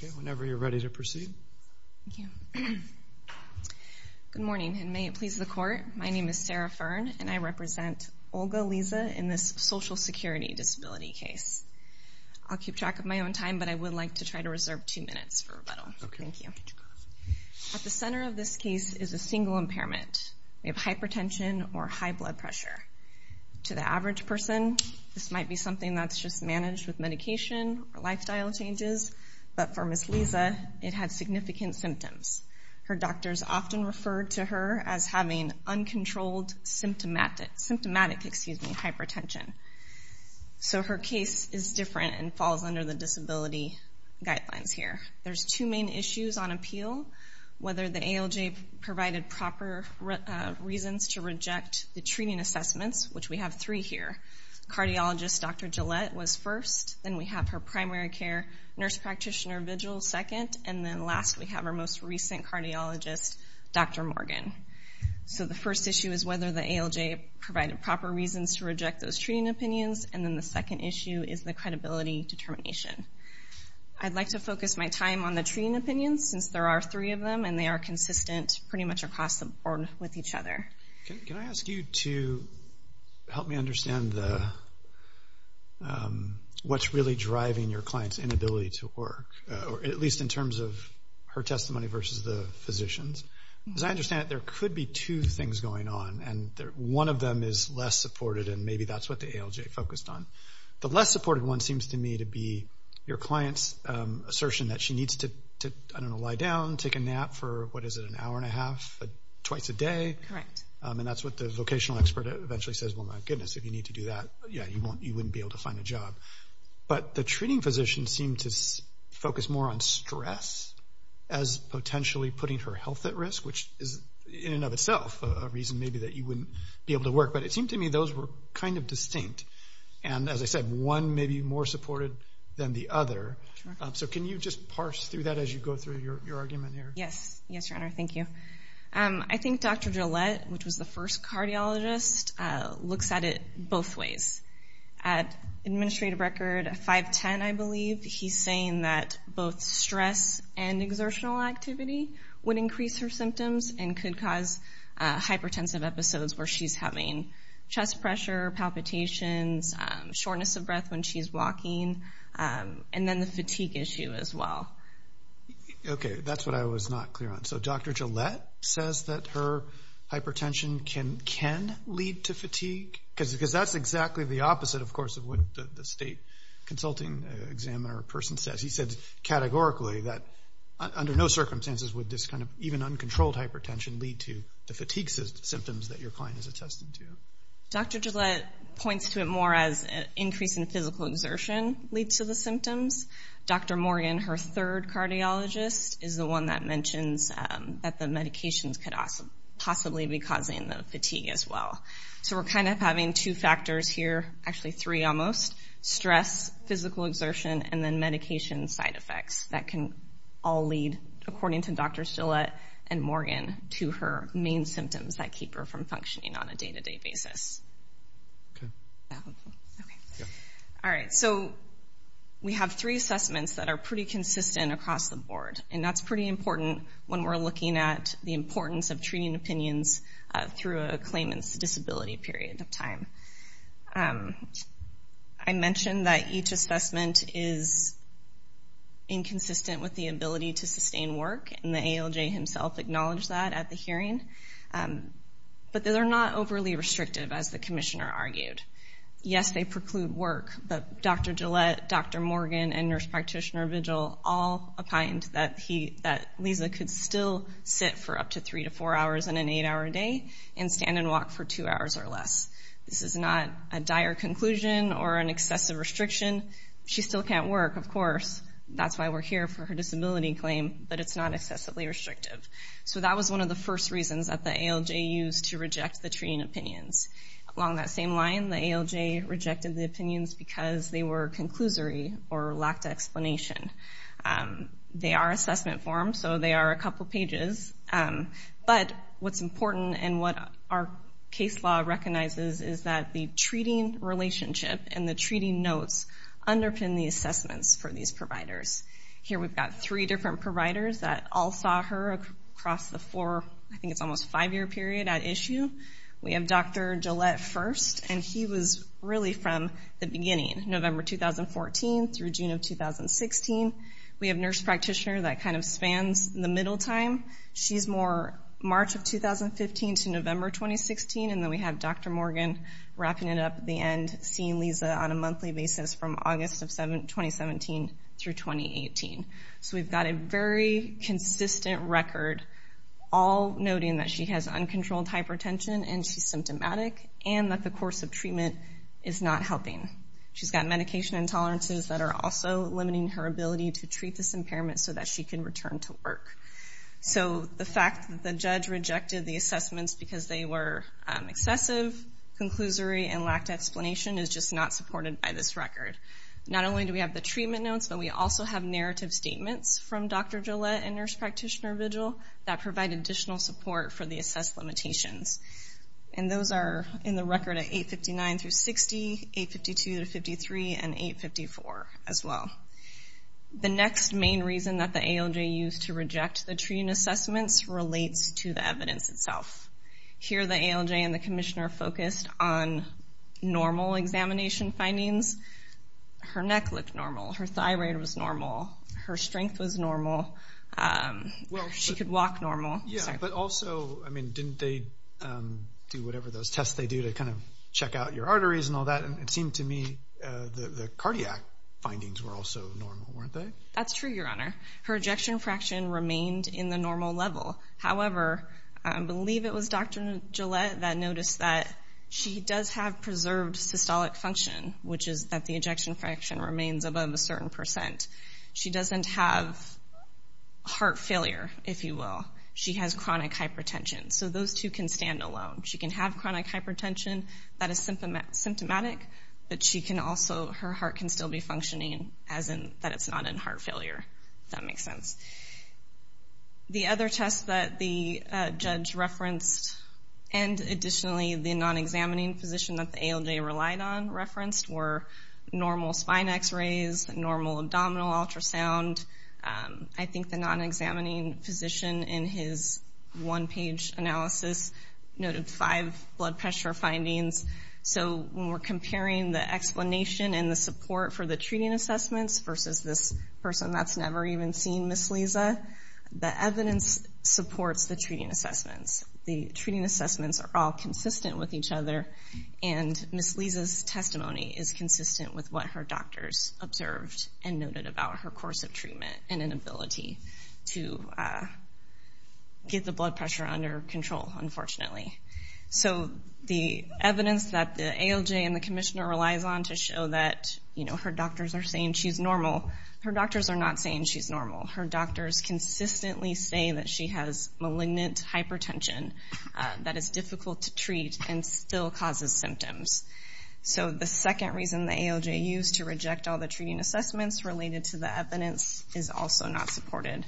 Good morning, and may it please the Court, my name is Sarah Fearn, and I represent Olga Leza in this Social Security Disability case. I'll keep track of my own time, but I would like to try to reserve two minutes for rebuttal. At the center of this case is a single impairment. We have hypertension or high blood pressure. To the average person, this might be something that's just managed with medication or lifestyle changes, but for Ms. Leza, it had significant symptoms. Her doctors often referred to her as having uncontrolled symptomatic hypertension. So her case is different and falls under the disability guidelines here. There's two main issues on appeal, whether the ALJ provided proper reasons to reject the treating assessments, which we have three here. Cardiologist Dr. Gillette was first, then we have her primary care nurse practitioner, Vigil, second, and then last we have our most recent cardiologist, Dr. Morgan. So the first issue is whether the ALJ provided proper reasons to reject those treating opinions, and then the second issue is the credibility determination. I'd like to focus my time on the treating opinions, since there are three of them, and they are consistent pretty much across the board with each other. Can I ask you to help me understand what's really driving your client's inability to work, at least in terms of her testimony versus the physician's? Because I understand that there could be two things going on, and one of them is less supported, and maybe that's what the ALJ focused on. The less supported one seems to me to be your client's assertion that she needs to, I don't know, lie down, take a nap for, what is it, an hour and a half, twice a day. And that's what the vocational expert eventually says, well, my goodness, if you need to do that, yeah, you wouldn't be able to find a job. But the treating physician seemed to focus more on stress as potentially putting her health at risk, which is in and of itself a reason maybe that you wouldn't be able to work. But it seemed to me those were kind of distinct. And as I said, one may be more supported than the other. So can you just parse through that as you go through your argument here? Yes. Yes, your honor. Thank you. I think Dr. Gillette, which was the first cardiologist, looks at it both ways. At administrative record 510, I believe, he's saying that both stress and exertional activity would increase her symptoms and could cause hypertensive episodes where she's having chest pressure, palpitations, shortness of breath when she's walking, and then the fatigue issue as well. Okay. That's what I was not clear on. So Dr. Gillette says that her hypertension can lead to fatigue? Because that's exactly the opposite, of course, of what the state consulting examiner person says. He said categorically that under no circumstances would this kind of even uncontrolled hypertension lead to the fatigue symptoms that your client has attested to. Dr. Gillette points to it more as an increase in physical exertion leads to the symptoms. Dr. Morgan, her third cardiologist, is the one that mentions that the medications could possibly be causing the fatigue as well. So we're kind of having two factors here, actually three almost. Stress, physical exertion, and then medication side effects. That can all lead, according to Dr. Gillette and Morgan, to her main symptoms that keep her from functioning on a day-to-day basis. Okay. Okay. Yeah. All right. So we have three assessments that are pretty consistent across the board, and that's pretty important when we're looking at the importance of treating opinions through a claimant's disability period of time. I mentioned that each assessment is inconsistent with the ability to sustain work, and the ALJ himself acknowledged that at the hearing. But they're not overly restrictive, as the commissioner argued. Yes, they preclude work, but Dr. Gillette, Dr. Morgan, and nurse practitioner Vigil all opined that Lisa could still sit for up to three to four hours in an eight-hour day and stand and walk for two hours or less. This is not a dire conclusion or an excessive restriction. She still can't work, of course. That's why we're here for her disability claim, but it's not excessively restrictive. So that was one of the first reasons that the ALJ used to reject the treating opinions. Along that same line, the ALJ rejected the opinions because they were conclusory or lacked explanation. They are assessment forms, so they are a couple pages. But what's important and what our case law recognizes is that the treating relationship and the treating notes underpin the assessments for these providers. Here we've got three different providers that all saw her across the four, I think it's almost five-year period at issue. We have Dr. Gillette first, and he was really from the beginning, November 2014 through June of 2016. We have nurse practitioner that kind of spans the middle time. She's more March of 2015 to November 2016, and then we have Dr. Morgan wrapping it up at the end, seeing Lisa on a monthly basis from August of 2017 through 2018. We've got a very consistent record, all noting that she has uncontrolled hypertension and she's symptomatic, and that the course of treatment is not helping. She's got medication intolerances that are also limiting her ability to treat this impairment so that she can return to work. The fact that the judge rejected the assessments because they were excessive, conclusory, and lacked explanation is just not supported by this record. Not only do we have the treatment notes, but we also have narrative statements from Dr. Gillette and nurse practitioner vigil that provide additional support for the assessed limitations. Those are in the record at 859 through 60, 852 through 53, and 854 as well. The next main reason that the ALJ used to reject the treating assessments relates to the evidence itself. Here, the ALJ and the commissioner focused on normal examination findings. Her neck looked normal. Her thyroid was normal. Her strength was normal. She could walk normal. Yeah, but also, I mean, didn't they do whatever those tests they do to kind of check out your arteries and all that? It seemed to me the cardiac findings were also normal, weren't they? That's true, your honor. Her ejection fraction remained in the normal level. However, I believe it was Dr. Gillette that noticed that she does have preserved systolic function, which is that the ejection fraction remains above a certain percent. She doesn't have heart failure, if you will. She has chronic hypertension. So those two can stand alone. She can have chronic hypertension that is symptomatic, but she can also, her heart can still be functioning as in that it's not in heart failure, if that makes sense. The other test that the judge referenced, and additionally, the non-examining physician that the ALJ relied on referenced, were normal spine x-rays, normal abdominal ultrasound. I think the non-examining physician, in his one-page analysis, noted five blood pressure findings. So when we're comparing the explanation and the support for the treating assessments versus this person that's never even seen Ms. Liza, the evidence supports the treating assessments. The treating assessments are all consistent with each other, and Ms. Liza's testimony is consistent with what her doctors observed and noted about her course of treatment and inability to get the blood pressure under control, unfortunately. So the evidence that the ALJ and the commissioner relies on to show that, you know, her doctors are saying she's normal, her doctors are not saying she's normal. Her doctors consistently say that she has malignant hypertension that is difficult to treat and still causes symptoms. So the second reason the ALJ used to reject all the treating assessments related to the evidence is also not supported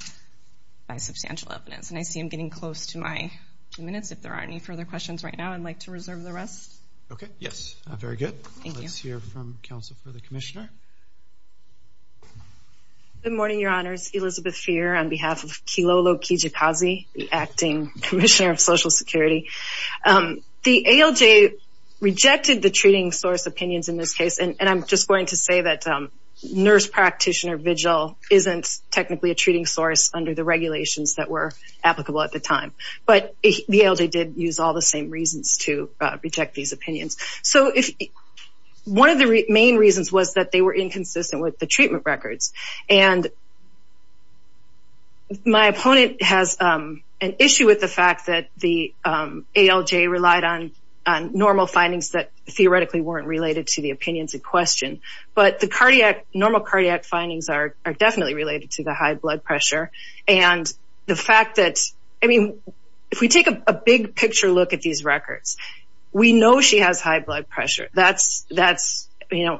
by substantial evidence. And I see I'm getting close to my minutes. If there aren't any further questions right now, I'd like to reserve the rest. Okay, yes. Very good. Let's hear from counsel for the commissioner. Good morning, your honors. Elizabeth Feer on behalf of Kilolo Kijikazi, the acting commissioner of Social Security. The ALJ rejected the treating source opinions in this case, and I'm just going to say that nurse practitioner vigil isn't technically a treating source under the regulations that were applicable at the time. But the ALJ did use all the same reasons to reject these opinions. So if one of the main reasons was that they were inconsistent with the treatment records. And my opponent has an issue with the fact that the ALJ relied on normal findings that theoretically weren't related to the opinions in question. But the fact that, I mean, if we take a big picture look at these records, we know she has high blood pressure. That's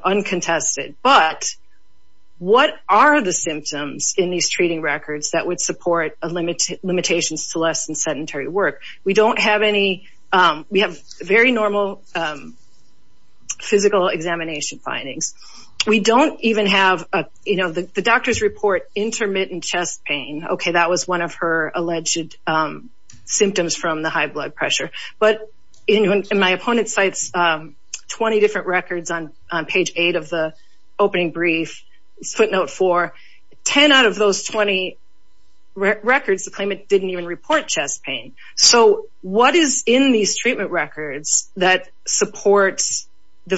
uncontested. But what are the symptoms in these treating records that would support limitations to less than sedentary work? We have very normal physical examination findings. We don't even have, you know, the doctors report intermittent chest pain. Okay, that was one of her alleged symptoms from the high blood pressure. But in my opponent's sites, 20 different records on page 8 of the opening brief, footnote 4, 10 out of those 20 records, the claimant didn't even report chest pain. So what is in these treatment records that supports the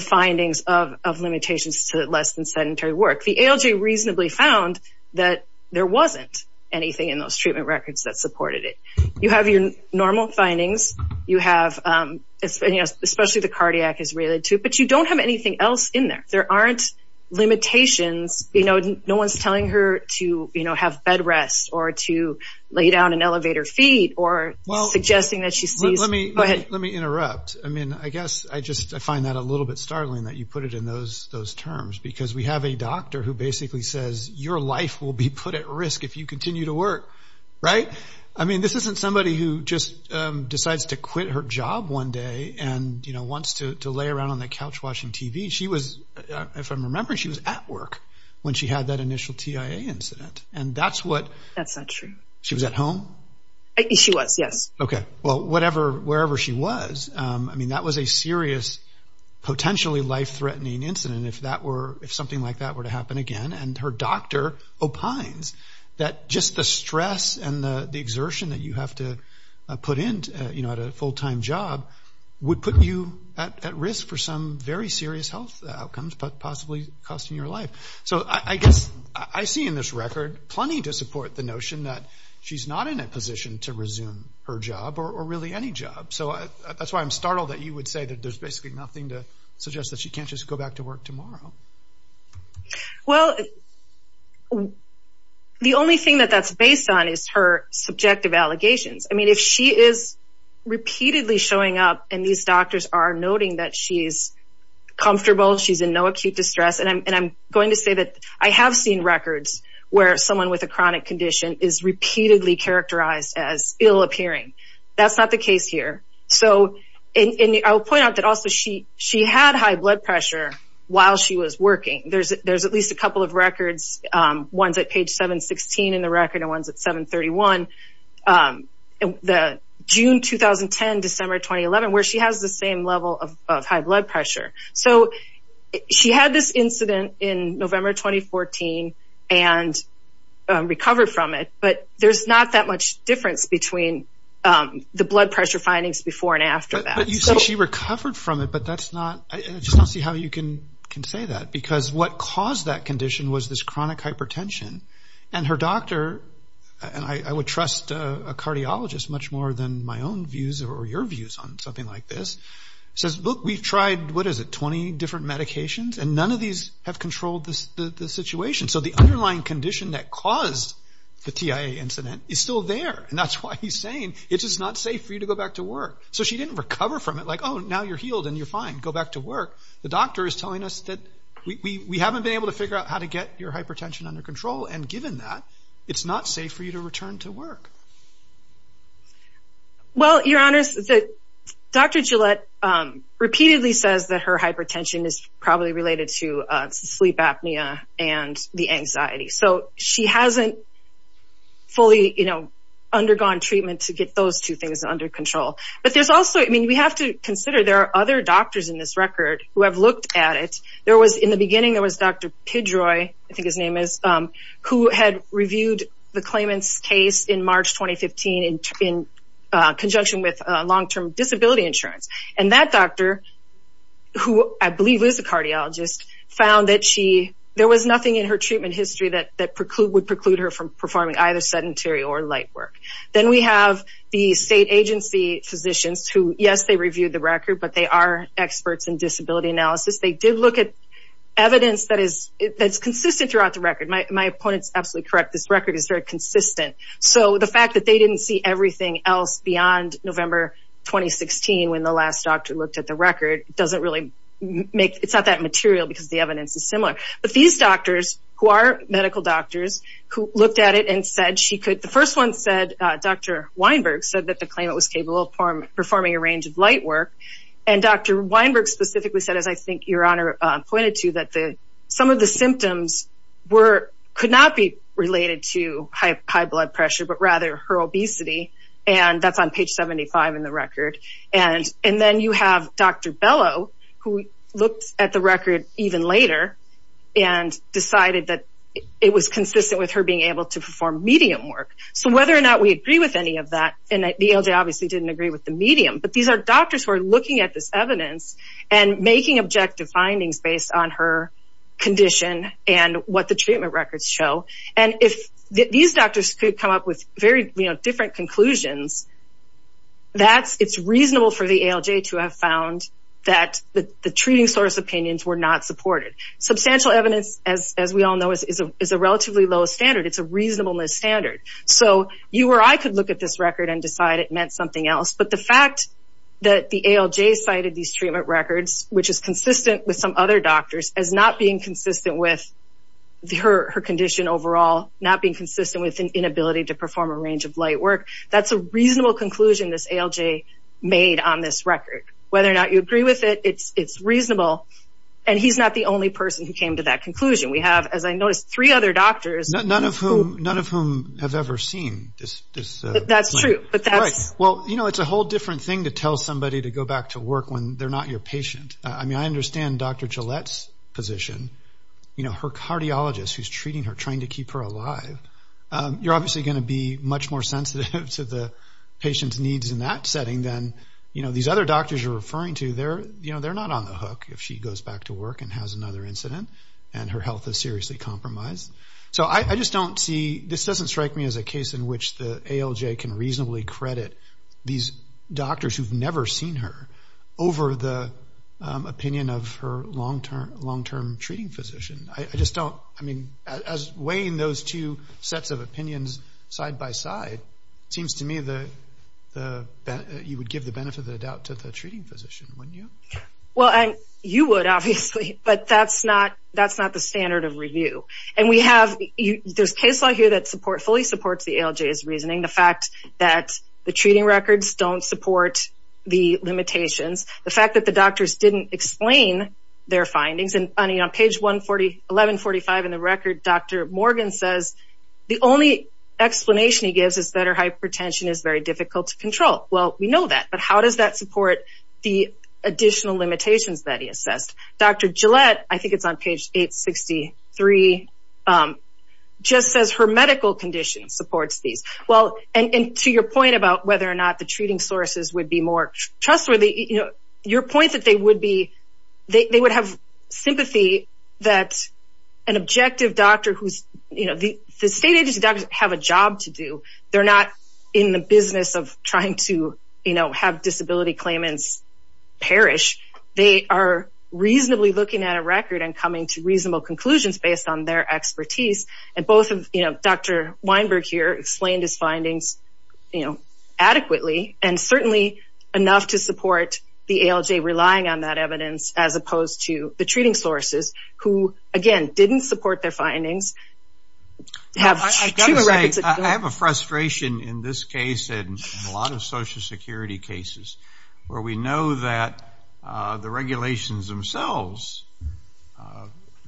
limitations to less than sedentary work? The ALJ reasonably found that there wasn't anything in those treatment records that supported it. You have your normal findings. You have, you know, especially the cardiac is related to it. But you don't have anything else in there. There aren't limitations. You know, no one's telling her to, you know, have bed rest or to lay down and elevate her feet or suggesting that she sees... Let me interrupt. I mean, I guess I just find that a those terms because we have a doctor who basically says, your life will be put at risk if you continue to work, right? I mean, this isn't somebody who just decides to quit her job one day and, you know, wants to lay around on the couch watching TV. She was, if I'm remembering, she was at work when she had that initial TIA incident. And that's what... That's not true. She was at home? She was, yes. Okay. Well, whatever, wherever she was, I mean, that was a serious, potentially life-threatening incident if that were, if something like that were to happen again. And her doctor opines that just the stress and the exertion that you have to put in, you know, at a full-time job would put you at risk for some very serious health outcomes, but possibly costing your life. So I guess I see in this record plenty to support the notion that she's not in a position to resume her job or really any job. So that's why I'm startled that you would say that there's basically nothing to suggest that she can't just go back to work tomorrow. Well, the only thing that that's based on is her subjective allegations. I mean, if she is repeatedly showing up and these doctors are noting that she's comfortable, she's in no acute distress, and I'm saying chronic condition, is repeatedly characterized as ill-appearing. That's not the case here. So, and I'll point out that also she had high blood pressure while she was working. There's at least a couple of records, one's at page 716 in the record and one's at 731, the June 2010, December 2011, where she has the same level of high blood pressure. So she had this incident in November 2014, and recovered from it. But there's not that much difference between the blood pressure findings before and after that. But you say she recovered from it, but that's not, I just don't see how you can say that, because what caused that condition was this chronic hypertension. And her doctor, and I would trust a cardiologist much more than my own views or your views on something like this, says, look, we've tried, what is it, 20 different medications, and none of these have controlled the situation. So the underlying condition that caused the TIA incident is still there. And that's why he's saying it's just not safe for you to go back to work. So she didn't recover from it, like, oh, now you're healed and you're fine, go back to work. The doctor is telling us that we haven't been able to figure out how to get your hypertension under control, and given that, it's not safe for you to return to work. Well, Your Honors, Dr. Gillette repeatedly says that her hypertension is probably related to sleep apnea and the anxiety. So she hasn't fully undergone treatment to get those two things under control. But there's also, I mean, we have to consider there are other doctors in this record who have looked at it. There was, in the beginning, there was Dr. Pidroi, I think his name is, who had the claimant's case in March 2015 in conjunction with long-term disability insurance. And that doctor, who I believe is a cardiologist, found that there was nothing in her treatment history that would preclude her from performing either sedentary or light work. Then we have the state agency physicians who, yes, they reviewed the record, but they are experts in disability analysis. They did look at evidence that is consistent throughout the record. My opponent's absolutely correct, this record is very consistent. So the fact that they didn't see everything else beyond November 2016, when the last doctor looked at the record, doesn't really make, it's not that material because the evidence is similar. But these doctors, who are medical doctors, who looked at it and said she could, the first one said, Dr. Weinberg said that the claimant was capable of performing a range of light work. And Dr. Weinberg specifically said, as I think Your Honor pointed to, that some of the symptoms could not be related to high blood pressure, but rather her obesity. And that's on page 75 in the record. And then you have Dr. Bellow, who looked at the record even later and decided that it was consistent with her being able to perform medium work. So whether or not we agree with any of that, and the ALJ obviously didn't agree with the medium, but these are doctors who are looking at this evidence and making objective findings based on her condition and what the treatment records show. And if these doctors could come up with very different conclusions, it's reasonable for the ALJ to have found that the treating source opinions were not supported. Substantial evidence, as we all know, is a relatively low standard. It's a reasonableness standard. So you or I could look at this record and decide it meant something else. But the fact that the ALJ cited these treatment records, which is consistent with some other doctors, as not being consistent with her condition overall, not being consistent with an inability to perform a range of light work, that's a reasonable conclusion this ALJ made on this record. Whether or not you agree with it, it's reasonable. And he's not the only person who came to that conclusion. We have, as I noticed, three other doctors. None of whom have ever seen this. That's true. Well, you know, it's a whole different thing to tell somebody to go back to work when they're not your patient. I mean, I understand Dr. Gillette's position. You know, her cardiologist who's treating her, trying to keep her alive, you're obviously going to be much more sensitive to the patient's needs in that setting than, you know, these other doctors are referring to. They're, you know, they're not on the hook if she goes back to work and has another incident and her health is seriously compromised. So I just don't see, this doesn't strike me as a case in which the ALJ can reasonably credit these doctors who've never seen her over the opinion of her long-term treating physician. I just don't, I mean, as weighing those two sets of opinions side by side, it seems to me that you would give the benefit of the doubt to the treating physician, wouldn't you? Well, you would obviously, but that's not the standard of supports the ALJ's reasoning. The fact that the treating records don't support the limitations, the fact that the doctors didn't explain their findings, and on page 1145 in the record, Dr. Morgan says the only explanation he gives is that her hypertension is very difficult to control. Well, we know that, but how does that support the additional limitations that he supports these? Well, and to your point about whether or not the treating sources would be more trustworthy, you know, your point that they would be, they would have sympathy that an objective doctor who's, you know, the state agency doctors have a job to do. They're not in the business of trying to, you know, have disability claimants perish. They are reasonably looking at a record and coming to reasonable conclusions based on their expertise. And both of, you know, Dr. Weinberg here explained his findings, you know, adequately and certainly enough to support the ALJ relying on that evidence as opposed to the treating sources who, again, didn't support their findings. I have to say, I have a frustration in this case and a lot of social security cases where we know that the regulations themselves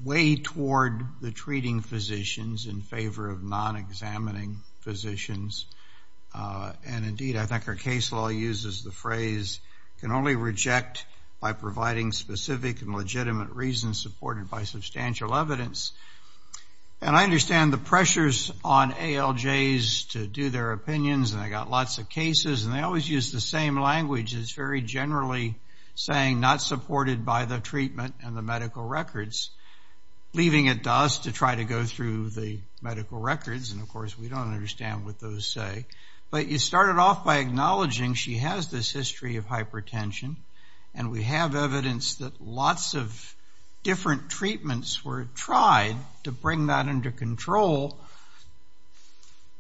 weigh toward the treating physicians in favor of non-examining physicians. And indeed, I think our case law uses the phrase, can only reject by providing specific and legitimate reasons supported by substantial evidence. And I understand the pressures on ALJs to do their opinions, and I got lots of cases, and they always use the same language. It's very generally saying not supported by the treatment and the medical records, leaving it to us to try to go through the medical records. And of course, we don't understand what those say. But you started off by acknowledging she has this history of hypertension, and we have evidence that lots of different treatments were tried to bring that under control.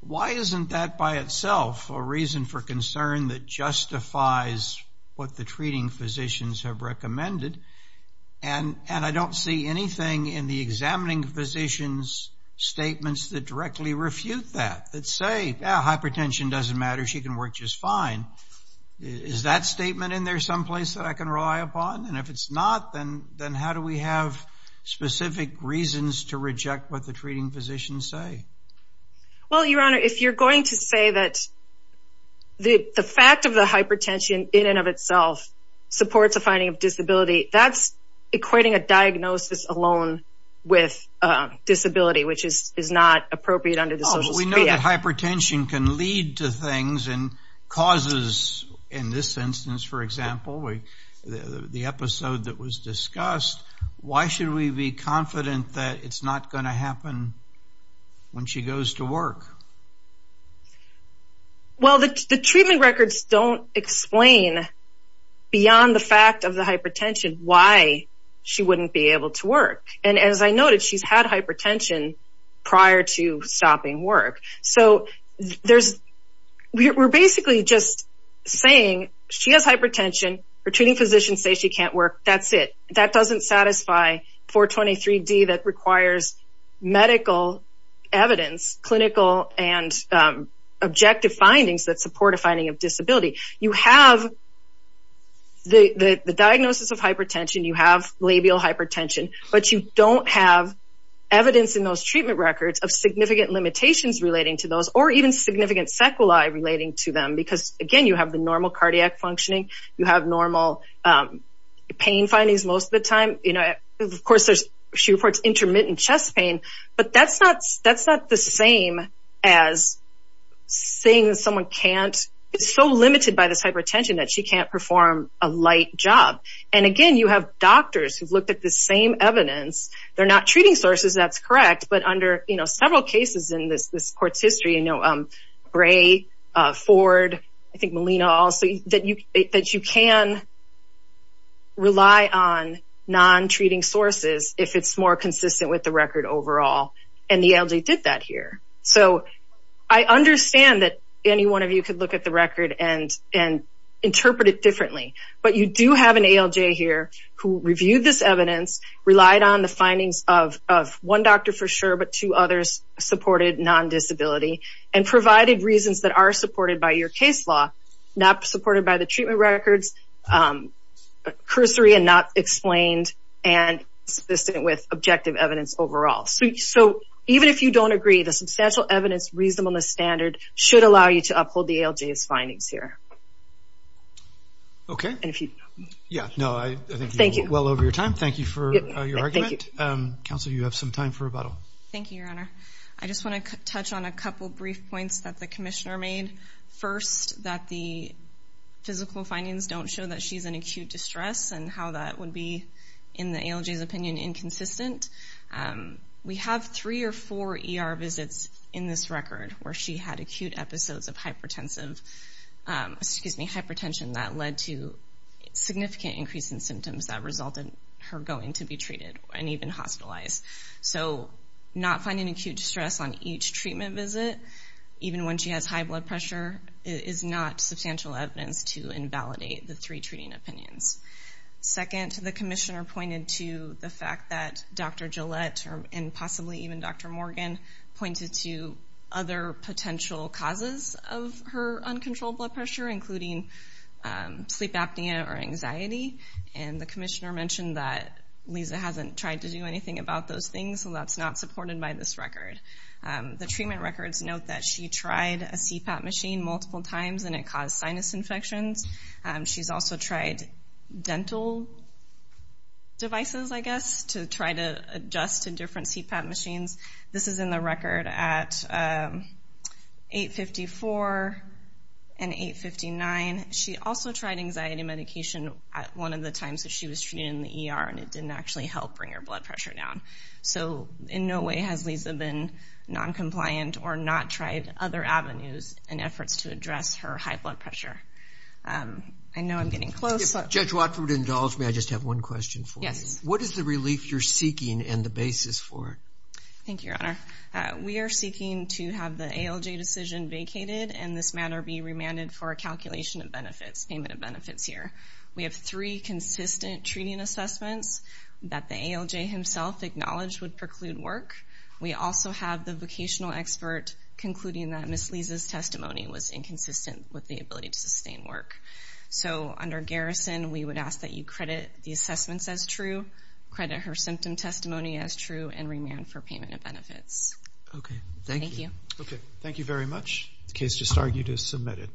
Why isn't that by itself a reason for concern that justifies what the treating physicians have recommended? And I don't see anything in the examining physicians' statements that directly refute that, that say, yeah, hypertension doesn't matter, she can work just fine. Is that statement in there someplace that I can rely upon? And if it's not, then how do we have specific reasons to reject what the treating physicians say? Well, Your Honor, if you're going to say that the fact of the hypertension in and of itself supports a finding of disability, that's equating a diagnosis alone with disability, which is not appropriate under the Social Security Act. Oh, we know that hypertension can lead to things and causes, in this instance, for example, the episode that was discussed, why should we be confident that it's not going to happen when she goes to work? Well, the treatment records don't explain beyond the fact of the hypertension why she wouldn't be able to work. And as I noted, she's had hypertension prior to stopping work. So we're basically just saying she has hypertension, treating physicians say she can't work, that's it. That doesn't satisfy 423D that requires medical evidence, clinical and objective findings that support a finding of disability. You have the diagnosis of hypertension, you have labial hypertension, but you don't have evidence in those treatment records of significant limitations relating to those, or even significant sequelae relating to them. Because again, you have the normal cardiac functioning, you have normal pain findings most of the time. Of course, she reports intermittent chest pain, but that's not the same as saying someone can't, it's so limited by this hypertension that she can't perform a light job. And again, you have doctors who've looked at the same evidence, they're not treating sources, that's correct. But under several cases in this court's history, Gray, Ford, I think Molina also, that you can rely on non-treating sources if it's more consistent with the record overall. And the ALJ did that here. So I understand that any one of you could look at the record and interpret it differently. But you do have an ALJ here who reviewed this and provided reasons that are supported by your case law, not supported by the treatment records, cursory and not explained, and consistent with objective evidence overall. So even if you don't agree, the substantial evidence reasonableness standard should allow you to uphold the ALJ's findings here. Okay. And if you... Yeah, no, I think you're well over your time. Thank you for your argument. Counsel, you have some time for rebuttal. Thank you, Your Honor. I just want to touch on a couple of brief points that the commissioner made. First, that the physical findings don't show that she's in acute distress and how that would be, in the ALJ's opinion, inconsistent. We have three or four ER visits in this record where she had acute episodes of hypertension that led to significant increase in symptoms that resulted her going to be treated and even hospitalized. So not finding acute distress on each treatment visit, even when she has high blood pressure, is not substantial evidence to invalidate the three treating opinions. Second, the commissioner pointed to the fact that Dr. Gillette and possibly even Dr. Morgan pointed to other potential causes of her uncontrolled blood pressure, including sleep apnea or anxiety. And the commissioner mentioned that Lisa hasn't tried to do anything about those things, so that's not supported by this record. The treatment records note that she tried a CPAP machine multiple times and it caused sinus infections. She's also tried dental devices, I guess, to try to adjust to different CPAP machines. This is in the record at 854 and 859. She also tried anxiety medication at one of the times that she was treated in the ER and it didn't actually help bring her blood pressure down. So in no way has Lisa been non-compliant or not tried other avenues and efforts to address her high blood pressure. I know I'm getting close. If Judge Watford would indulge me, I just have one question for you. Yes. What is the relief you're seeking and the basis for it? Thank you, Your Honor. We are seeking to have the ALJ decision vacated and this matter be remanded for a calculation of benefits, payment of benefits here. We have three consistent treating assessments that the ALJ himself acknowledged would preclude work. We also have the vocational expert concluding that Ms. Lisa's testimony was inconsistent with the ability to sustain work. So under garrison, we would ask that you credit the assessments as true, credit her symptom testimony as true, and remand for payment of benefits. Okay. Thank you. Okay. Thank you very much. The case just argued is submitted.